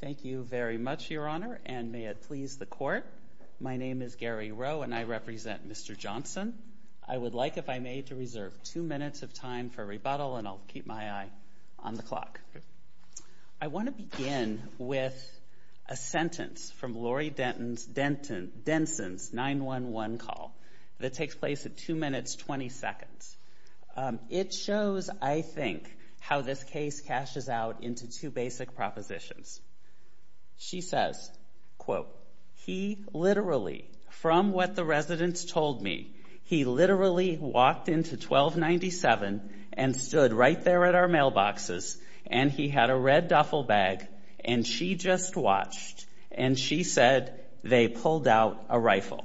Thank you very much, Your Honor, and may it please the Court. My name is Gary Rowe, and I represent Mr. Johnson. I would like, if I may, to reserve two minutes of time for rebuttal, and I'll keep my eye on the clock. I want to begin with a sentence from Lori Denson's 911 call that takes place at 2 minutes 20 seconds. It shows, I think, how this case cashes out into two basic propositions. She says, quote, he literally, from what the residents told me, he literally walked into 1297 and stood right there at our mailboxes, and he had a red duffel bag, and she just watched, and she said they pulled out a rifle.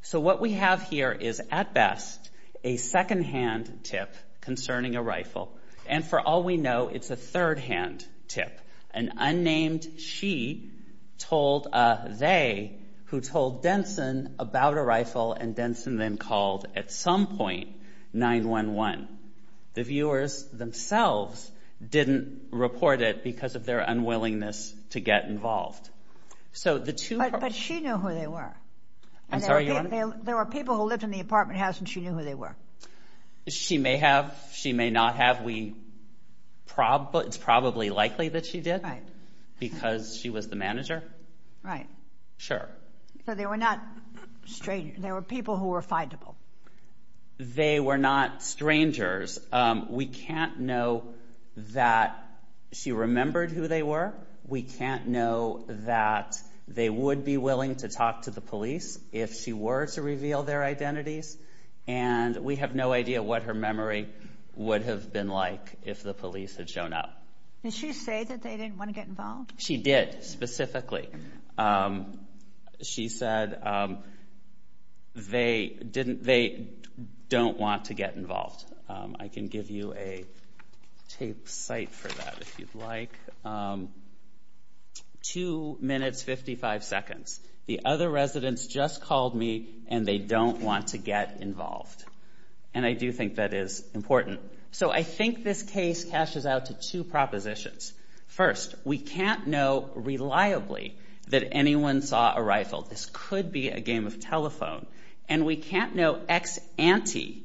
So what we have here is, at best, a secondhand tip concerning a rifle, and for all we know, it's a thirdhand tip. An unnamed she told a they who told Denson about a rifle, and Denson then called at some point 911. The viewers themselves didn't report it because of their unwillingness to get involved. But she knew who they were. There were people who lived in the apartment house, and she knew who they were. She may have. She may not have. It's probably likely that she did because she was the manager. Right. Sure. So they were not strangers. They were people who were findable. They were not strangers. We can't know that she remembered who they were. We can't know that they would be willing to talk to the police if she were to reveal their identities, and we have no idea what her memory would have been like if the police had shown up. Did she say that they didn't want to get involved? She did, specifically. She said they don't want to get involved. I can give you a tape site for that if you'd like. Two minutes, 55 seconds. The other residents just called me, and they don't want to get involved. And I do think that is important. So I think this case cashes out to two propositions. First, we can't know reliably that anyone saw a rifle. This could be a game of telephone. And we can't know ex ante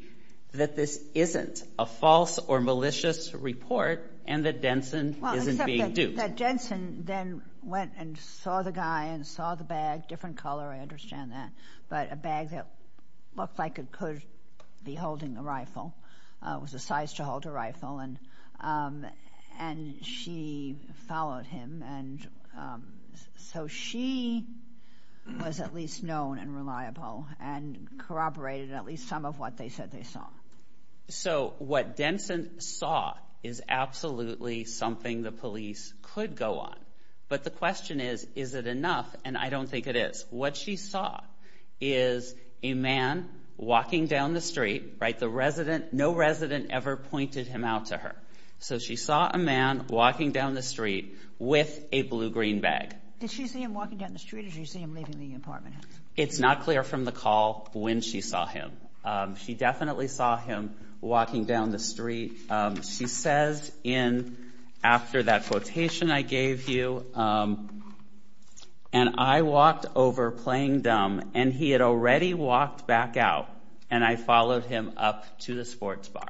that this isn't a false or malicious report and that Denson isn't being duped. Except that Denson then went and saw the guy and saw the bag, different color, I understand that, but a bag that looked like it could be holding a rifle, was the size to hold a rifle. And she followed him, and so she was at least known and reliable and corroborated at least some of what they said they saw. So what Denson saw is absolutely something the police could go on. But the question is, is it enough? And I don't think it is. What she saw is a man walking down the street. No resident ever pointed him out to her. So she saw a man walking down the street with a blue-green bag. Did she see him walking down the street, or did she see him leaving the apartment? It's not clear from the call when she saw him. She definitely saw him walking down the street. She says in after that quotation I gave you, and I walked over playing dumb, and he had already walked back out, and I followed him up to the sports bar.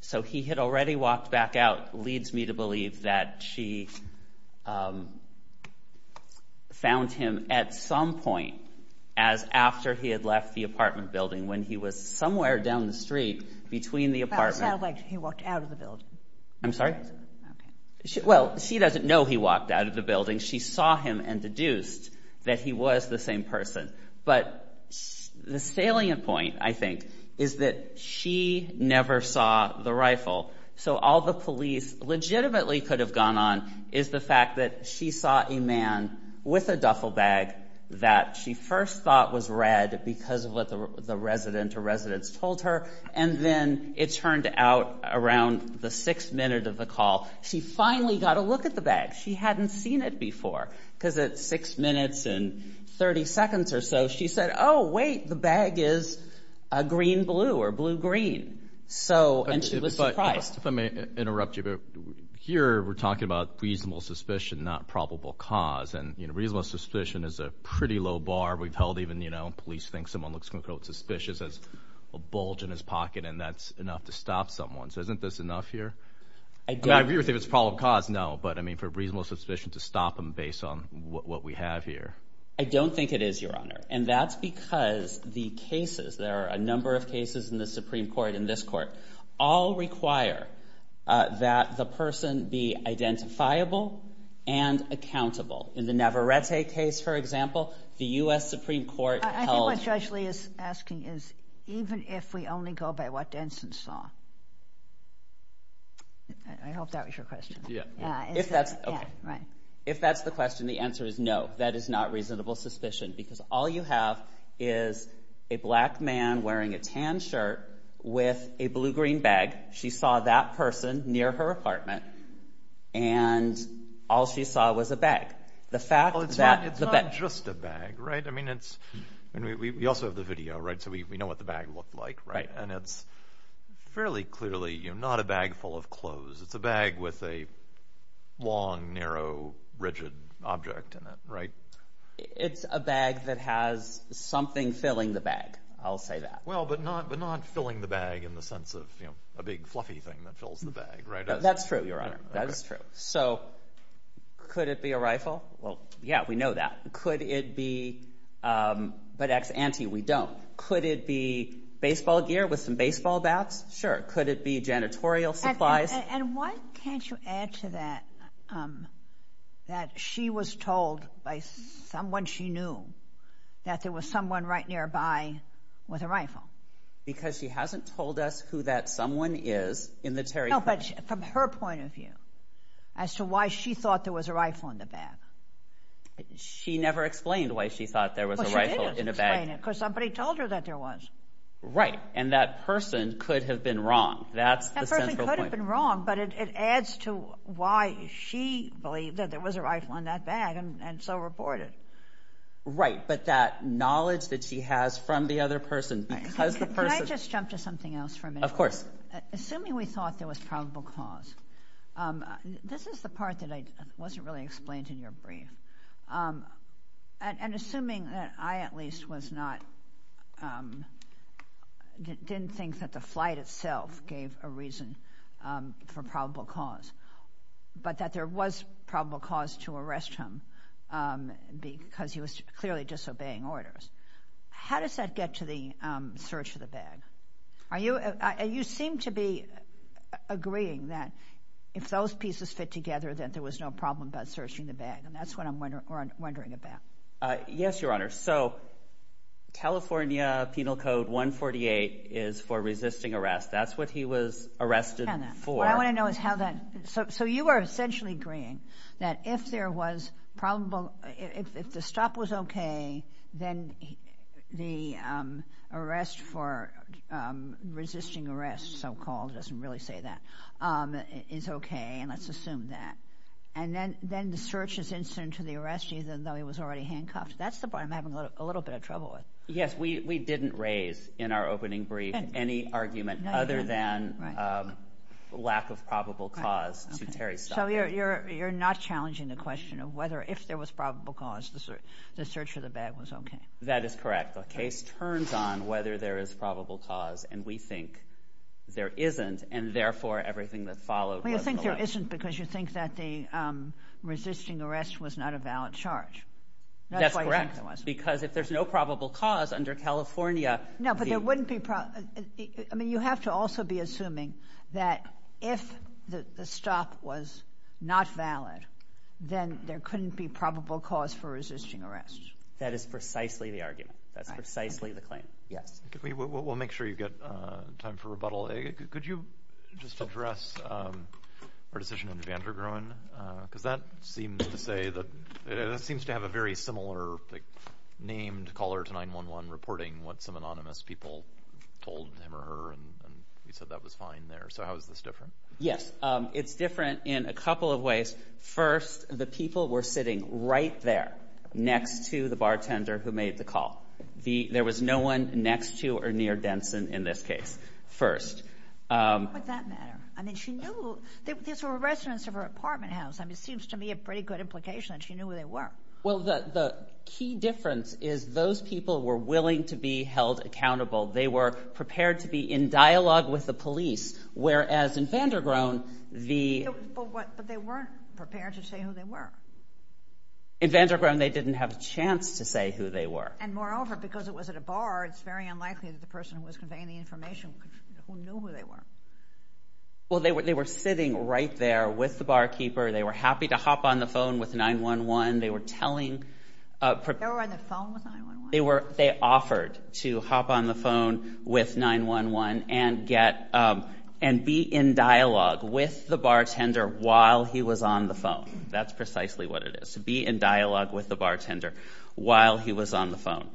So he had already walked back out leads me to believe that she found him at some point as after he had left the apartment building, when he was somewhere down the street between the apartment. I'm sorry? Well, she doesn't know he walked out of the building. She saw him and deduced that he was the same person. But the salient point, I think, is that she never saw the rifle. She went out around the sixth minute of the call. She finally got a look at the bag. She hadn't seen it before because at six minutes and 30 seconds or so, she said, oh, wait, the bag is a green-blue or blue-green. And she was surprised. If I may interrupt you, here we're talking about reasonable suspicion, not probable cause. And reasonable suspicion is a pretty low bar. We've held even, you know, police think someone looks, quote, suspicious as a bulge in his pocket, and that's enough to stop someone. So isn't this enough here? I mean, I agree with you it's probable cause, no, but, I mean, for reasonable suspicion to stop him based on what we have here. I don't think it is, Your Honor, and that's because the cases, there are a number of cases in the Supreme Court and this court, all require that the person be identifiable and accountable. In the Navarrete case, for example, the U.S. Supreme Court held. I think what Judge Lee is asking is even if we only go by what Denson saw. I hope that was your question. Yeah. If that's, okay. Yeah, right. If that's the question, the answer is no. That is not reasonable suspicion because all you have is a black man wearing a tan shirt with a blue-green bag. She saw that person near her apartment, and all she saw was a bag. The fact that the bag. Well, it's not just a bag, right? I mean, it's, and we also have the video, right, so we know what the bag looked like, right? And it's fairly clearly, you know, not a bag full of clothes. It's a bag with a long, narrow, rigid object in it, right? It's a bag that has something filling the bag. I'll say that. Well, but not filling the bag in the sense of, you know, a big fluffy thing that fills the bag, right? That's true, Your Honor. That is true. So could it be a rifle? Well, yeah, we know that. Could it be, but ex ante, we don't. Could it be baseball gear with some baseball bats? Sure. Could it be janitorial supplies? And why can't you add to that that she was told by someone she knew that there was someone right nearby with a rifle? Because she hasn't told us who that someone is in the Terry case. No, but from her point of view, as to why she thought there was a rifle in the bag. She never explained why she thought there was a rifle in a bag. Well, she did explain it, because somebody told her that there was. Right, and that person could have been wrong. That's the central point. That person could have been wrong, but it adds to why she believed that there was a rifle in that bag and so reported. Right, but that knowledge that she has from the other person, because the person. Can I just jump to something else for a minute? Of course. Assuming we thought there was probable cause, this is the part that wasn't really explained in your brief. And assuming that I at least was not, didn't think that the flight itself gave a reason for probable cause, but that there was probable cause to arrest him because he was clearly disobeying orders. How does that get to the search of the bag? You seem to be agreeing that if those pieces fit together, then there was no problem about searching the bag. And that's what I'm wondering about. Yes, Your Honor. So, California Penal Code 148 is for resisting arrest. That's what he was arrested for. So you are essentially agreeing that if there was probable, if the stop was okay, then the arrest for resisting arrest, so-called, doesn't really say that, is okay, and let's assume that. And then the search is instant to the arrest, even though he was already handcuffed. That's the part I'm having a little bit of trouble with. Yes, we didn't raise in our opening brief any argument other than lack of probable cause to Terry's stop. So you're not challenging the question of whether if there was probable cause, the search of the bag was okay? That is correct. The case turns on whether there is probable cause, and we think there isn't, and therefore everything that followed was a lie. Well, you think there isn't because you think that the resisting arrest was not a valid charge. That's correct. Because if there's no probable cause under California- No, but there wouldn't be, I mean, you have to also be assuming that if the stop was not valid, then there couldn't be probable cause for resisting arrest. That is precisely the argument. That's precisely the claim. We'll make sure you get time for rebuttal. Could you just address our decision under Vandergroen? Because that seems to have a very similar named caller to 911 reporting what some anonymous people told him or her, and you said that was fine there. So how is this different? Yes, it's different in a couple of ways. First, the people were sitting right there next to the bartender who made the call. There was no one next to or near Denson in this case. First- Why would that matter? I mean, she knew these were residents of her apartment house. I mean, it seems to me a pretty good implication that she knew who they were. Well, the key difference is those people were willing to be held accountable. They were prepared to be in dialogue with the police, whereas in Vandergroen, the- But they weren't prepared to say who they were. In Vandergroen, they didn't have a chance to say who they were. And moreover, because it was at a bar, it's very unlikely that the person who was conveying the information knew who they were. Well, they were sitting right there with the barkeeper. They were happy to hop on the phone with 911. They were telling- They were on the phone with 911? They offered to hop on the phone with 911 and be in dialogue with the bartender while he was on the phone. That's precisely what it is, to be in dialogue with the bartender while he was on the phone.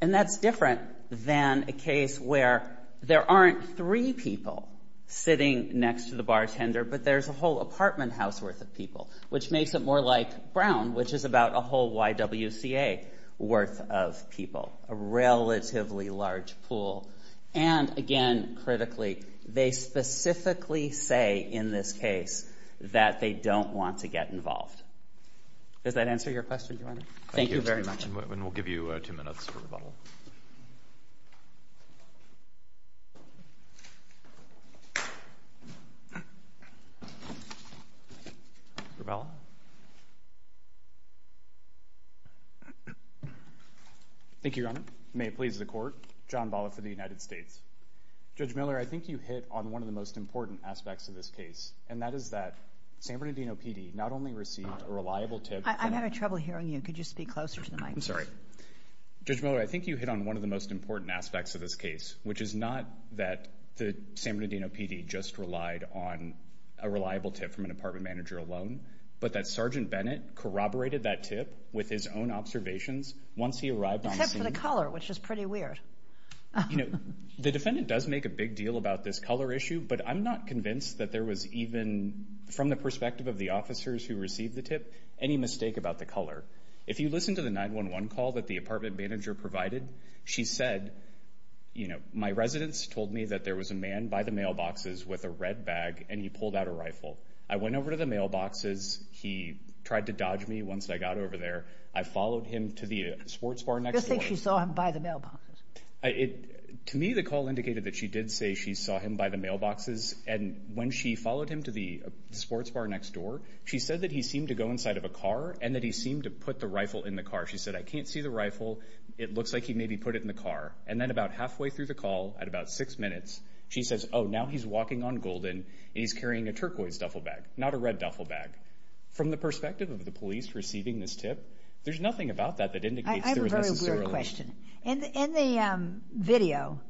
And that's different than a case where there aren't three people sitting next to the bartender, but there's a whole apartment house worth of people, which makes it more like Brown, which is about a whole YWCA worth of people, a relatively large pool. And again, critically, they specifically say in this case that they don't want to get involved. Does that answer your question, Your Honor? Thank you very much. And we'll give you two minutes for rebuttal. Thank you, Your Honor. May it please the Court, John Bollett for the United States. Judge Miller, I think you hit on one of the most important aspects of this case, and that is that San Bernardino PD not only received a reliable tip- I'm having trouble hearing you. Could you speak closer to the mic? I'm sorry. Judge Miller, I think you hit on one of the most important aspects of this case, which is not that the San Bernardino PD just relied on a reliable tip from an apartment manager alone, but that Sergeant Bennett corroborated that tip with his own observations once he arrived on the scene- You know, the defendant does make a big deal about this color issue, but I'm not convinced that there was even, from the perspective of the officers who received the tip, any mistake about the color. If you listen to the 911 call that the apartment manager provided, she said, you know, my residents told me that there was a man by the mailboxes with a red bag, and he pulled out a rifle. I went over to the mailboxes. He tried to dodge me once I got over there. I followed him to the sports bar next door. How do you think she saw him by the mailboxes? To me, the call indicated that she did say she saw him by the mailboxes, and when she followed him to the sports bar next door, she said that he seemed to go inside of a car and that he seemed to put the rifle in the car. She said, I can't see the rifle. It looks like he maybe put it in the car. And then about halfway through the call, at about six minutes, she says, oh, now he's walking on Golden, and he's carrying a turquoise duffel bag, not a red duffel bag. From the perspective of the police receiving this tip, there's nothing about that that indicates- That's a good question. In the video,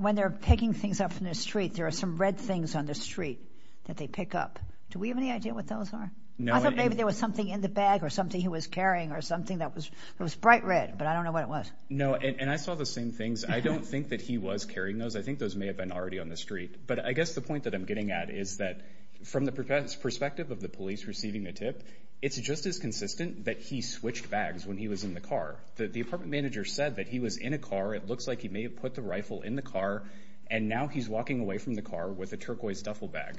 when they're picking things up in the street, there are some red things on the street that they pick up. Do we have any idea what those are? No. I thought maybe there was something in the bag or something he was carrying or something that was bright red, but I don't know what it was. No, and I saw the same things. I don't think that he was carrying those. I think those may have been already on the street. But I guess the point that I'm getting at is that from the perspective of the police receiving the tip, it's just as consistent that he switched bags when he was in the car. The apartment manager said that he was in a car. It looks like he may have put the rifle in the car, and now he's walking away from the car with a turquoise duffel bag.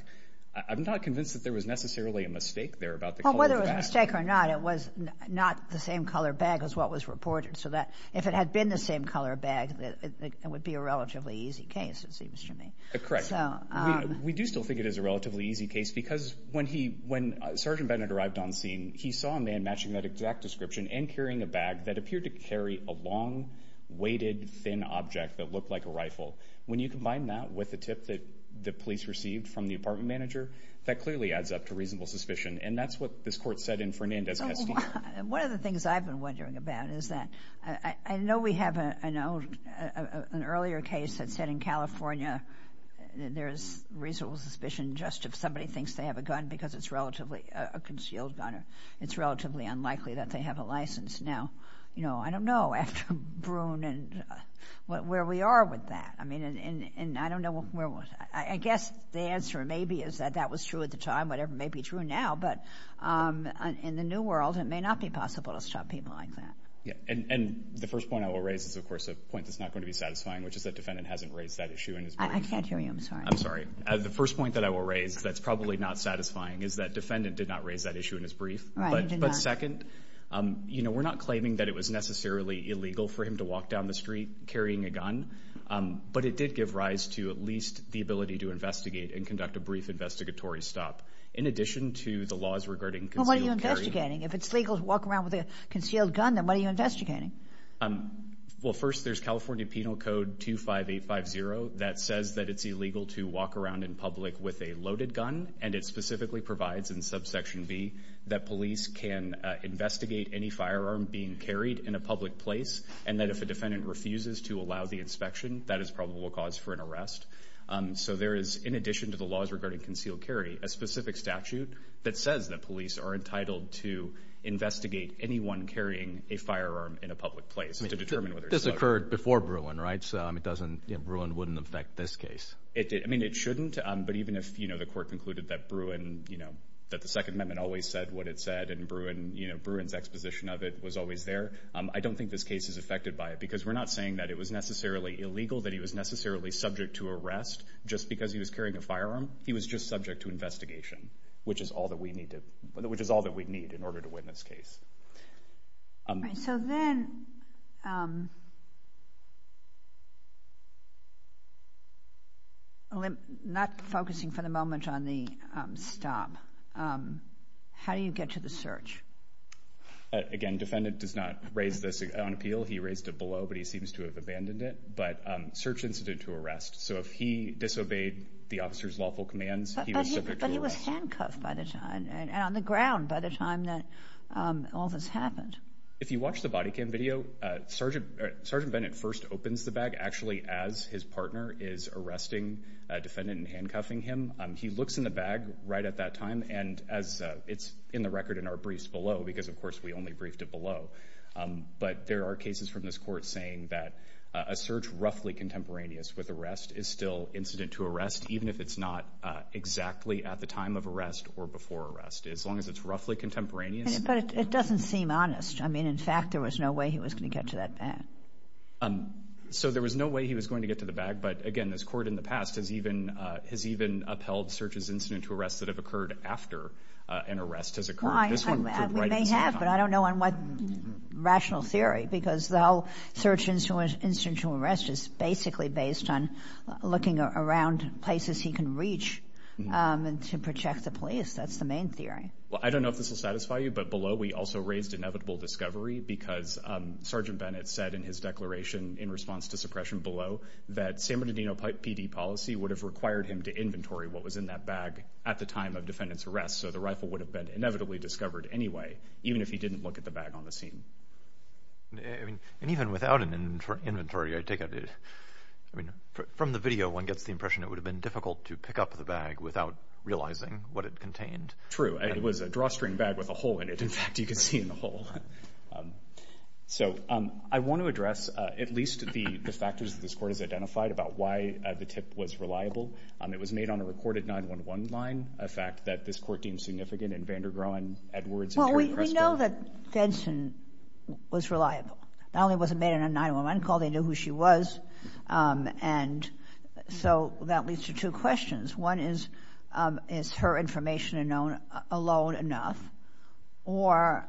I'm not convinced that there was necessarily a mistake there about the color of the bag. Well, whether it was a mistake or not, it was not the same color bag as what was reported. So if it had been the same color bag, it would be a relatively easy case, it seems to me. Correct. We do still think it is a relatively easy case because when Sergeant Bennett arrived on scene, he saw a man matching that exact description and carrying a bag that appeared to carry a long, weighted, thin object that looked like a rifle. When you combine that with the tip that the police received from the apartment manager, that clearly adds up to reasonable suspicion. And that's what this court said in Fernandez-Castillo. One of the things I've been wondering about is that I know we have an earlier case that said in California there's reasonable suspicion just if somebody thinks they have a gun because it's relatively a concealed gun or it's relatively unlikely that they have a license. Now, you know, I don't know, after Broon, where we are with that. I mean, and I don't know where we're with that. I guess the answer maybe is that that was true at the time, whatever may be true now, but in the new world, it may not be possible to stop people like that. Yeah, and the first point I will raise is, of course, a point that's not going to be satisfying, which is that defendant hasn't raised that issue in his brief. I can't hear you. I'm sorry. I'm sorry. The first point that I will raise that's probably not satisfying is that defendant did not raise that issue in his brief. Right, he did not. But second, you know, we're not claiming that it was necessarily illegal for him to walk down the street carrying a gun, but it did give rise to at least the ability to investigate and conduct a brief investigatory stop. In addition to the laws regarding concealed carrying. Well, what are you investigating? If it's legal to walk around with a concealed gun, then what are you investigating? Well, first, there's California Penal Code 25850 that says that it's illegal to walk around in public with a loaded gun, and it specifically provides in subsection B that police can investigate any firearm being carried in a public place and that if a defendant refuses to allow the inspection, that is probable cause for an arrest. So there is, in addition to the laws regarding concealed carry, a specific statute that says that police are entitled to investigate anyone carrying a firearm in a public place to determine whether it's loaded. This occurred before Bruin, right? So Bruin wouldn't affect this case. I mean, it shouldn't. But even if the court concluded that the Second Amendment always said what it said and Bruin's exposition of it was always there, I don't think this case is affected by it because we're not saying that it was necessarily illegal, that he was necessarily subject to arrest. Just because he was carrying a firearm, he was just subject to investigation, which is all that we need in order to win this case. All right. So then, not focusing for the moment on the stop, how do you get to the search? Again, defendant does not raise this on appeal. He raised it below, but he seems to have abandoned it. But search instituted to arrest. So if he disobeyed the officer's lawful commands, he was subject to arrest. But he was handcuffed by the time, and on the ground by the time that all this happened. If you watch the body cam video, Sergeant Bennett first opens the bag, actually as his partner is arresting a defendant and handcuffing him. He looks in the bag right at that time, and it's in the record in our briefs below because, of course, we only briefed it below. But there are cases from this court saying that a search roughly contemporaneous with arrest is still incident to arrest, even if it's not exactly at the time of arrest or before arrest, as long as it's roughly contemporaneous. But it doesn't seem honest. I mean, in fact, there was no way he was going to get to that bag. So there was no way he was going to get to the bag. But, again, this court in the past has even upheld searches incident to arrest that have occurred after an arrest has occurred. We may have, but I don't know on what rational theory because the whole search incident to arrest is basically based on looking around places he can reach to protect the police. That's the main theory. Well, I don't know if this will satisfy you, but below we also raised inevitable discovery because Sergeant Bennett said in his declaration in response to suppression below that San Bernardino PD policy would have required him to inventory what was in that bag at the time of defendant's arrest. So the rifle would have been inevitably discovered anyway, even if he didn't look at the bag on the scene. And even without an inventory, I take it, from the video one gets the impression it would have been difficult to pick up the bag without realizing what it contained. True. It was a drawstring bag with a hole in it. In fact, you can see in the hole. So I want to address at least the factors that this court has identified about why the tip was reliable. It was made on a recorded 9-1-1 line, a fact that this court deemed significant in Vandergroen, Edwards, and Perry-Cresto. Well, we know that Benson was reliable. Not only was it made on a 9-1-1 call, they knew who she was. And so that leads to two questions. One is, is her information alone enough, or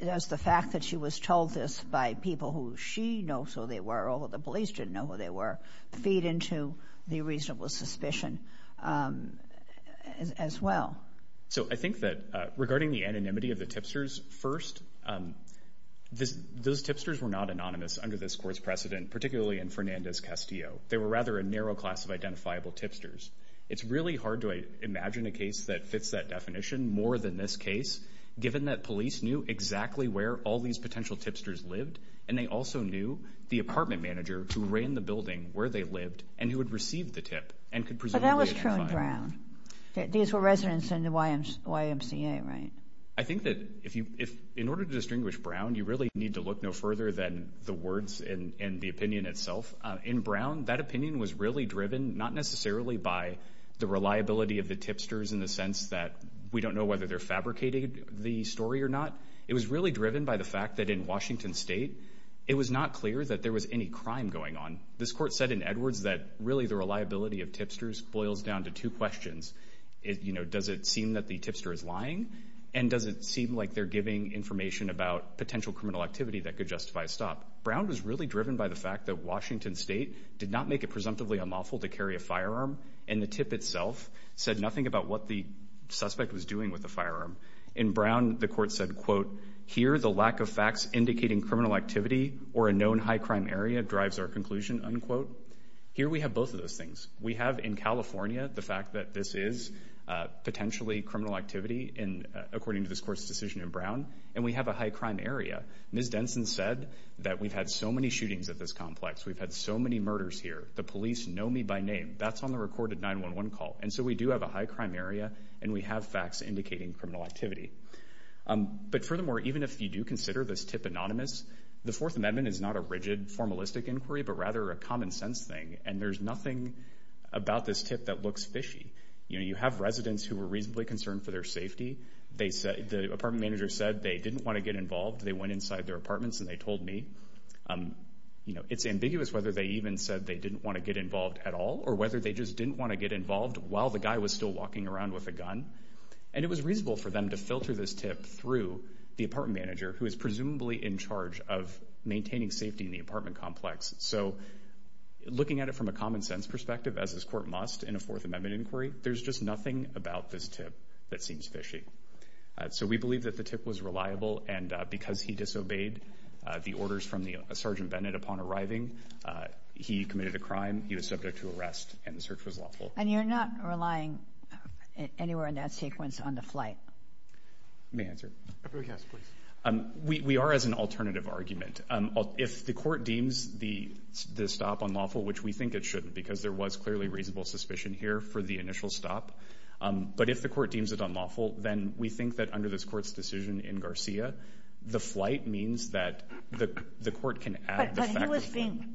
does the fact that she was told this by people who she knows who they were, although the police didn't know who they were, feed into the reasonable suspicion as well? So I think that regarding the anonymity of the tipsters, first, those tipsters were not anonymous under this court's precedent, particularly in Fernandez-Castillo. They were rather a narrow class of identifiable tipsters. It's really hard to imagine a case that fits that definition more than this case, given that police knew exactly where all these potential tipsters lived, and they also knew the apartment manager who ran the building where they lived and who had received the tip and could presumably identify them. But that was true in Brown. These were residents in the YMCA, right? I think that in order to distinguish Brown, you really need to look no further than the words and the opinion itself. In Brown, that opinion was really driven not necessarily by the reliability of the tipsters in the sense that we don't know whether they're fabricating the story or not. It was really driven by the fact that in Washington State, it was not clear that there was any crime going on. This court said in Edwards that really the reliability of tipsters boils down to two questions. Does it seem that the tipster is lying, and does it seem like they're giving information about potential criminal activity that could justify a stop? Brown was really driven by the fact that Washington State did not make it presumptively unlawful to carry a firearm, In Brown, the court said, Here we have both of those things. We have in California the fact that this is potentially criminal activity, according to this court's decision in Brown, and we have a high crime area. Ms. Denson said that we've had so many shootings at this complex. We've had so many murders here. The police know me by name. That's on the recorded 911 call. And so we do have a high crime area, and we have facts indicating criminal activity. But furthermore, even if you do consider this tip anonymous, the Fourth Amendment is not a rigid, formalistic inquiry, but rather a common-sense thing, and there's nothing about this tip that looks fishy. You have residents who were reasonably concerned for their safety. The apartment manager said they didn't want to get involved. They went inside their apartments, and they told me. It's ambiguous whether they even said they didn't want to get involved at all or whether they just didn't want to get involved while the guy was still walking around with a gun. And it was reasonable for them to filter this tip through the apartment manager, who is presumably in charge of maintaining safety in the apartment complex. So looking at it from a common-sense perspective, as this court must in a Fourth Amendment inquiry, there's just nothing about this tip that seems fishy. So we believe that the tip was reliable, and because he disobeyed the orders from Sergeant Bennett upon arriving, he committed a crime, he was subject to arrest, and the search was lawful. And you're not relying anywhere in that sequence on the flight? May I answer? Yes, please. We are as an alternative argument. If the court deems the stop unlawful, which we think it shouldn't, because there was clearly reasonable suspicion here for the initial stop, but if the court deems it unlawful, then we think that under this court's decision in Garcia, the flight means that the court can add the fact that the flight was unlawful.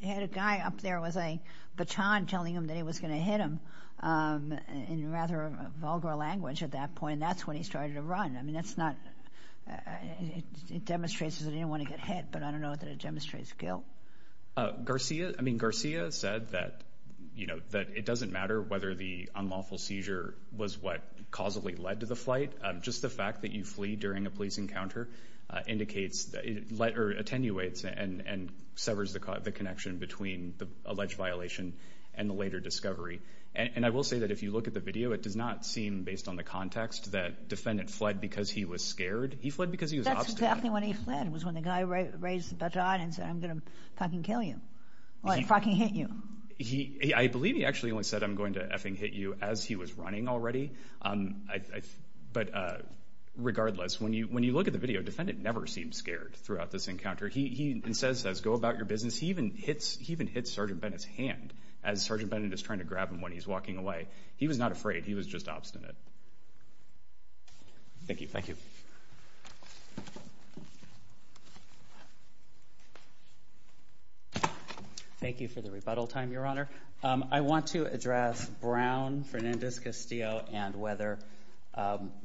He had a guy up there with a baton telling him that he was going to hit him, in rather vulgar language at that point, and that's when he started to run. I mean, it demonstrates that he didn't want to get hit, but I don't know that it demonstrates guilt. Garcia said that it doesn't matter whether the unlawful seizure was what causally led to the flight. Just the fact that you flee during a police encounter attenuates and severs the connection between the alleged violation and the later discovery. And I will say that if you look at the video, it does not seem, based on the context, that defendant fled because he was scared. He fled because he was obstinate. That's exactly when he fled was when the guy raised the baton and said, I'm going to fucking kill you or fucking hit you. I believe he actually only said, I'm going to effing hit you as he was running already. But regardless, when you look at the video, defendant never seemed scared throughout this encounter. He instead says, go about your business. He even hits Sergeant Bennett's hand as Sergeant Bennett is trying to grab him when he's walking away. He was not afraid. He was just obstinate. Thank you. Thank you. Thank you for the rebuttal time, Your Honor. I want to address Brown, Fernandez-Castillo, and whether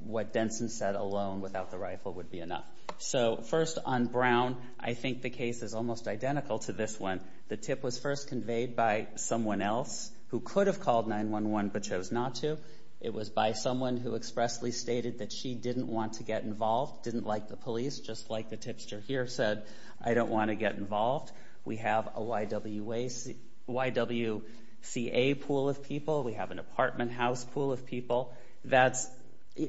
what Denson said alone without the rifle would be enough. So first on Brown, I think the case is almost identical to this one. The tip was first conveyed by someone else who could have called 911 but chose not to. It was by someone who expressly stated that she didn't want to get involved, didn't like the police, just like the tipster here said, I don't want to get involved. We have a YWCA pool of people. We have an apartment house pool of people.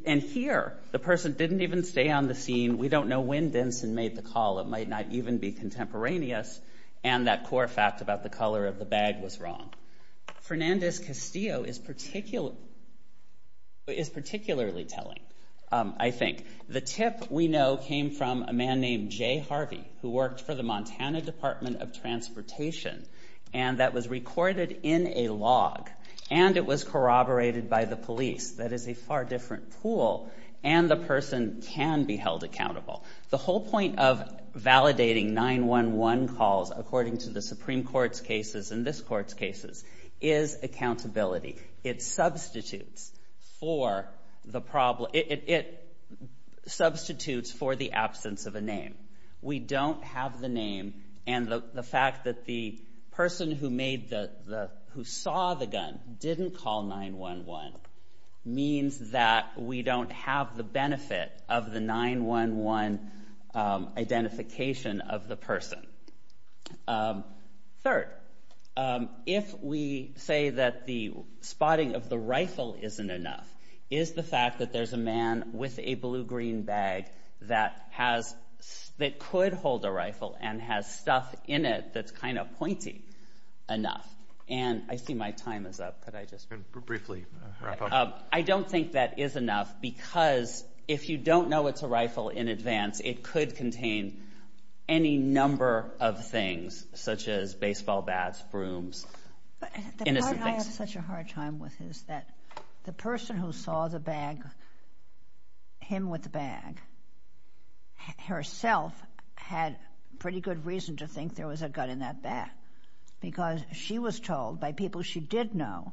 And here, the person didn't even stay on the scene. We don't know when Denson made the call. It might not even be contemporaneous. And that core fact about the color of the bag was wrong. Fernandez-Castillo is particularly telling, I think. The tip we know came from a man named Jay Harvey, who worked for the Montana Department of Transportation, and that was recorded in a log. And it was corroborated by the police. That is a far different pool. And the person can be held accountable. The whole point of validating 911 calls, according to the Supreme Court's cases and this Court's cases, is accountability. It substitutes for the absence of a name. We don't have the name. And the fact that the person who saw the gun didn't call 911 means that we don't have the benefit of the 911 identification of the person. Third, if we say that the spotting of the rifle isn't enough, is the fact that there's a man with a blue-green bag that could hold a rifle and has stuff in it that's kind of pointy enough. And I see my time is up. Could I just briefly wrap up? I don't think that is enough, because if you don't know it's a rifle in advance, it could contain any number of things, such as baseball bats, brooms, innocent things. The part I have such a hard time with is that the person who saw him with the bag herself had pretty good reason to think there was a gun in that bag, because she was told by people she did know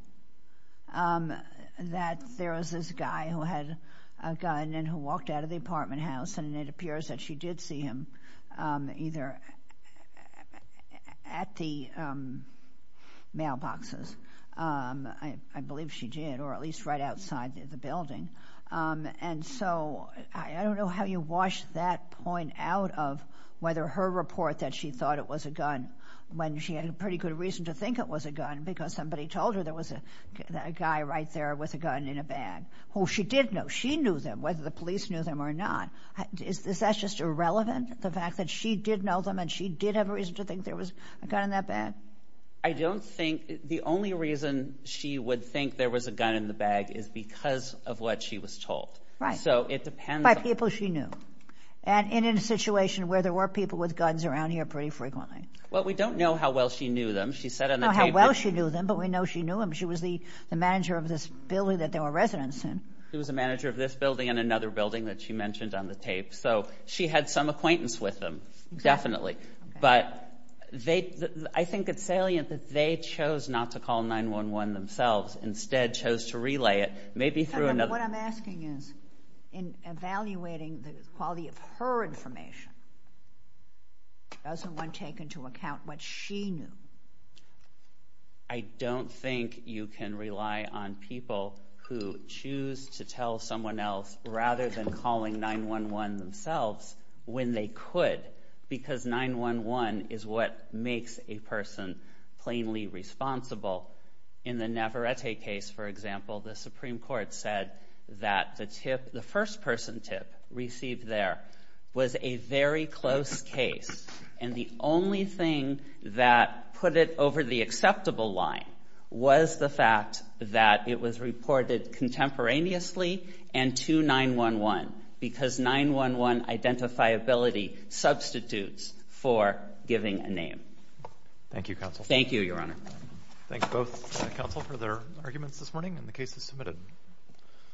that there was this guy who had a gun and who walked out of the apartment house, and it appears that she did see him, either at the mailboxes, I believe she did, or at least right outside the building. And so I don't know how you wash that point out of whether her report that she thought it was a gun, when she had pretty good reason to think it was a gun, because somebody told her there was a guy right there with a gun in a bag, who she did know. She knew them, whether the police knew them or not. Is that just irrelevant, the fact that she did know them and she did have a reason to think there was a gun in that bag? I don't think. The only reason she would think there was a gun in the bag is because of what she was told. Right. So it depends on— By people she knew. And in a situation where there were people with guns around here pretty frequently. Well, we don't know how well she knew them. She said on the tape that— She was a manager of this building and another building that she mentioned on the tape. So she had some acquaintance with them, definitely. But I think it's salient that they chose not to call 911 themselves, instead chose to relay it maybe through another— What I'm asking is, in evaluating the quality of her information, doesn't one take into account what she knew? I don't think you can rely on people who choose to tell someone else, rather than calling 911 themselves, when they could, because 911 is what makes a person plainly responsible. In the Navarrete case, for example, the Supreme Court said that the first-person tip received there was a very close case. And the only thing that put it over the acceptable line was the fact that it was reported contemporaneously and to 911, because 911 identifiability substitutes for giving a name. Thank you, counsel. Thank you, Your Honor. Thank both counsel for their arguments this morning, and the case is submitted.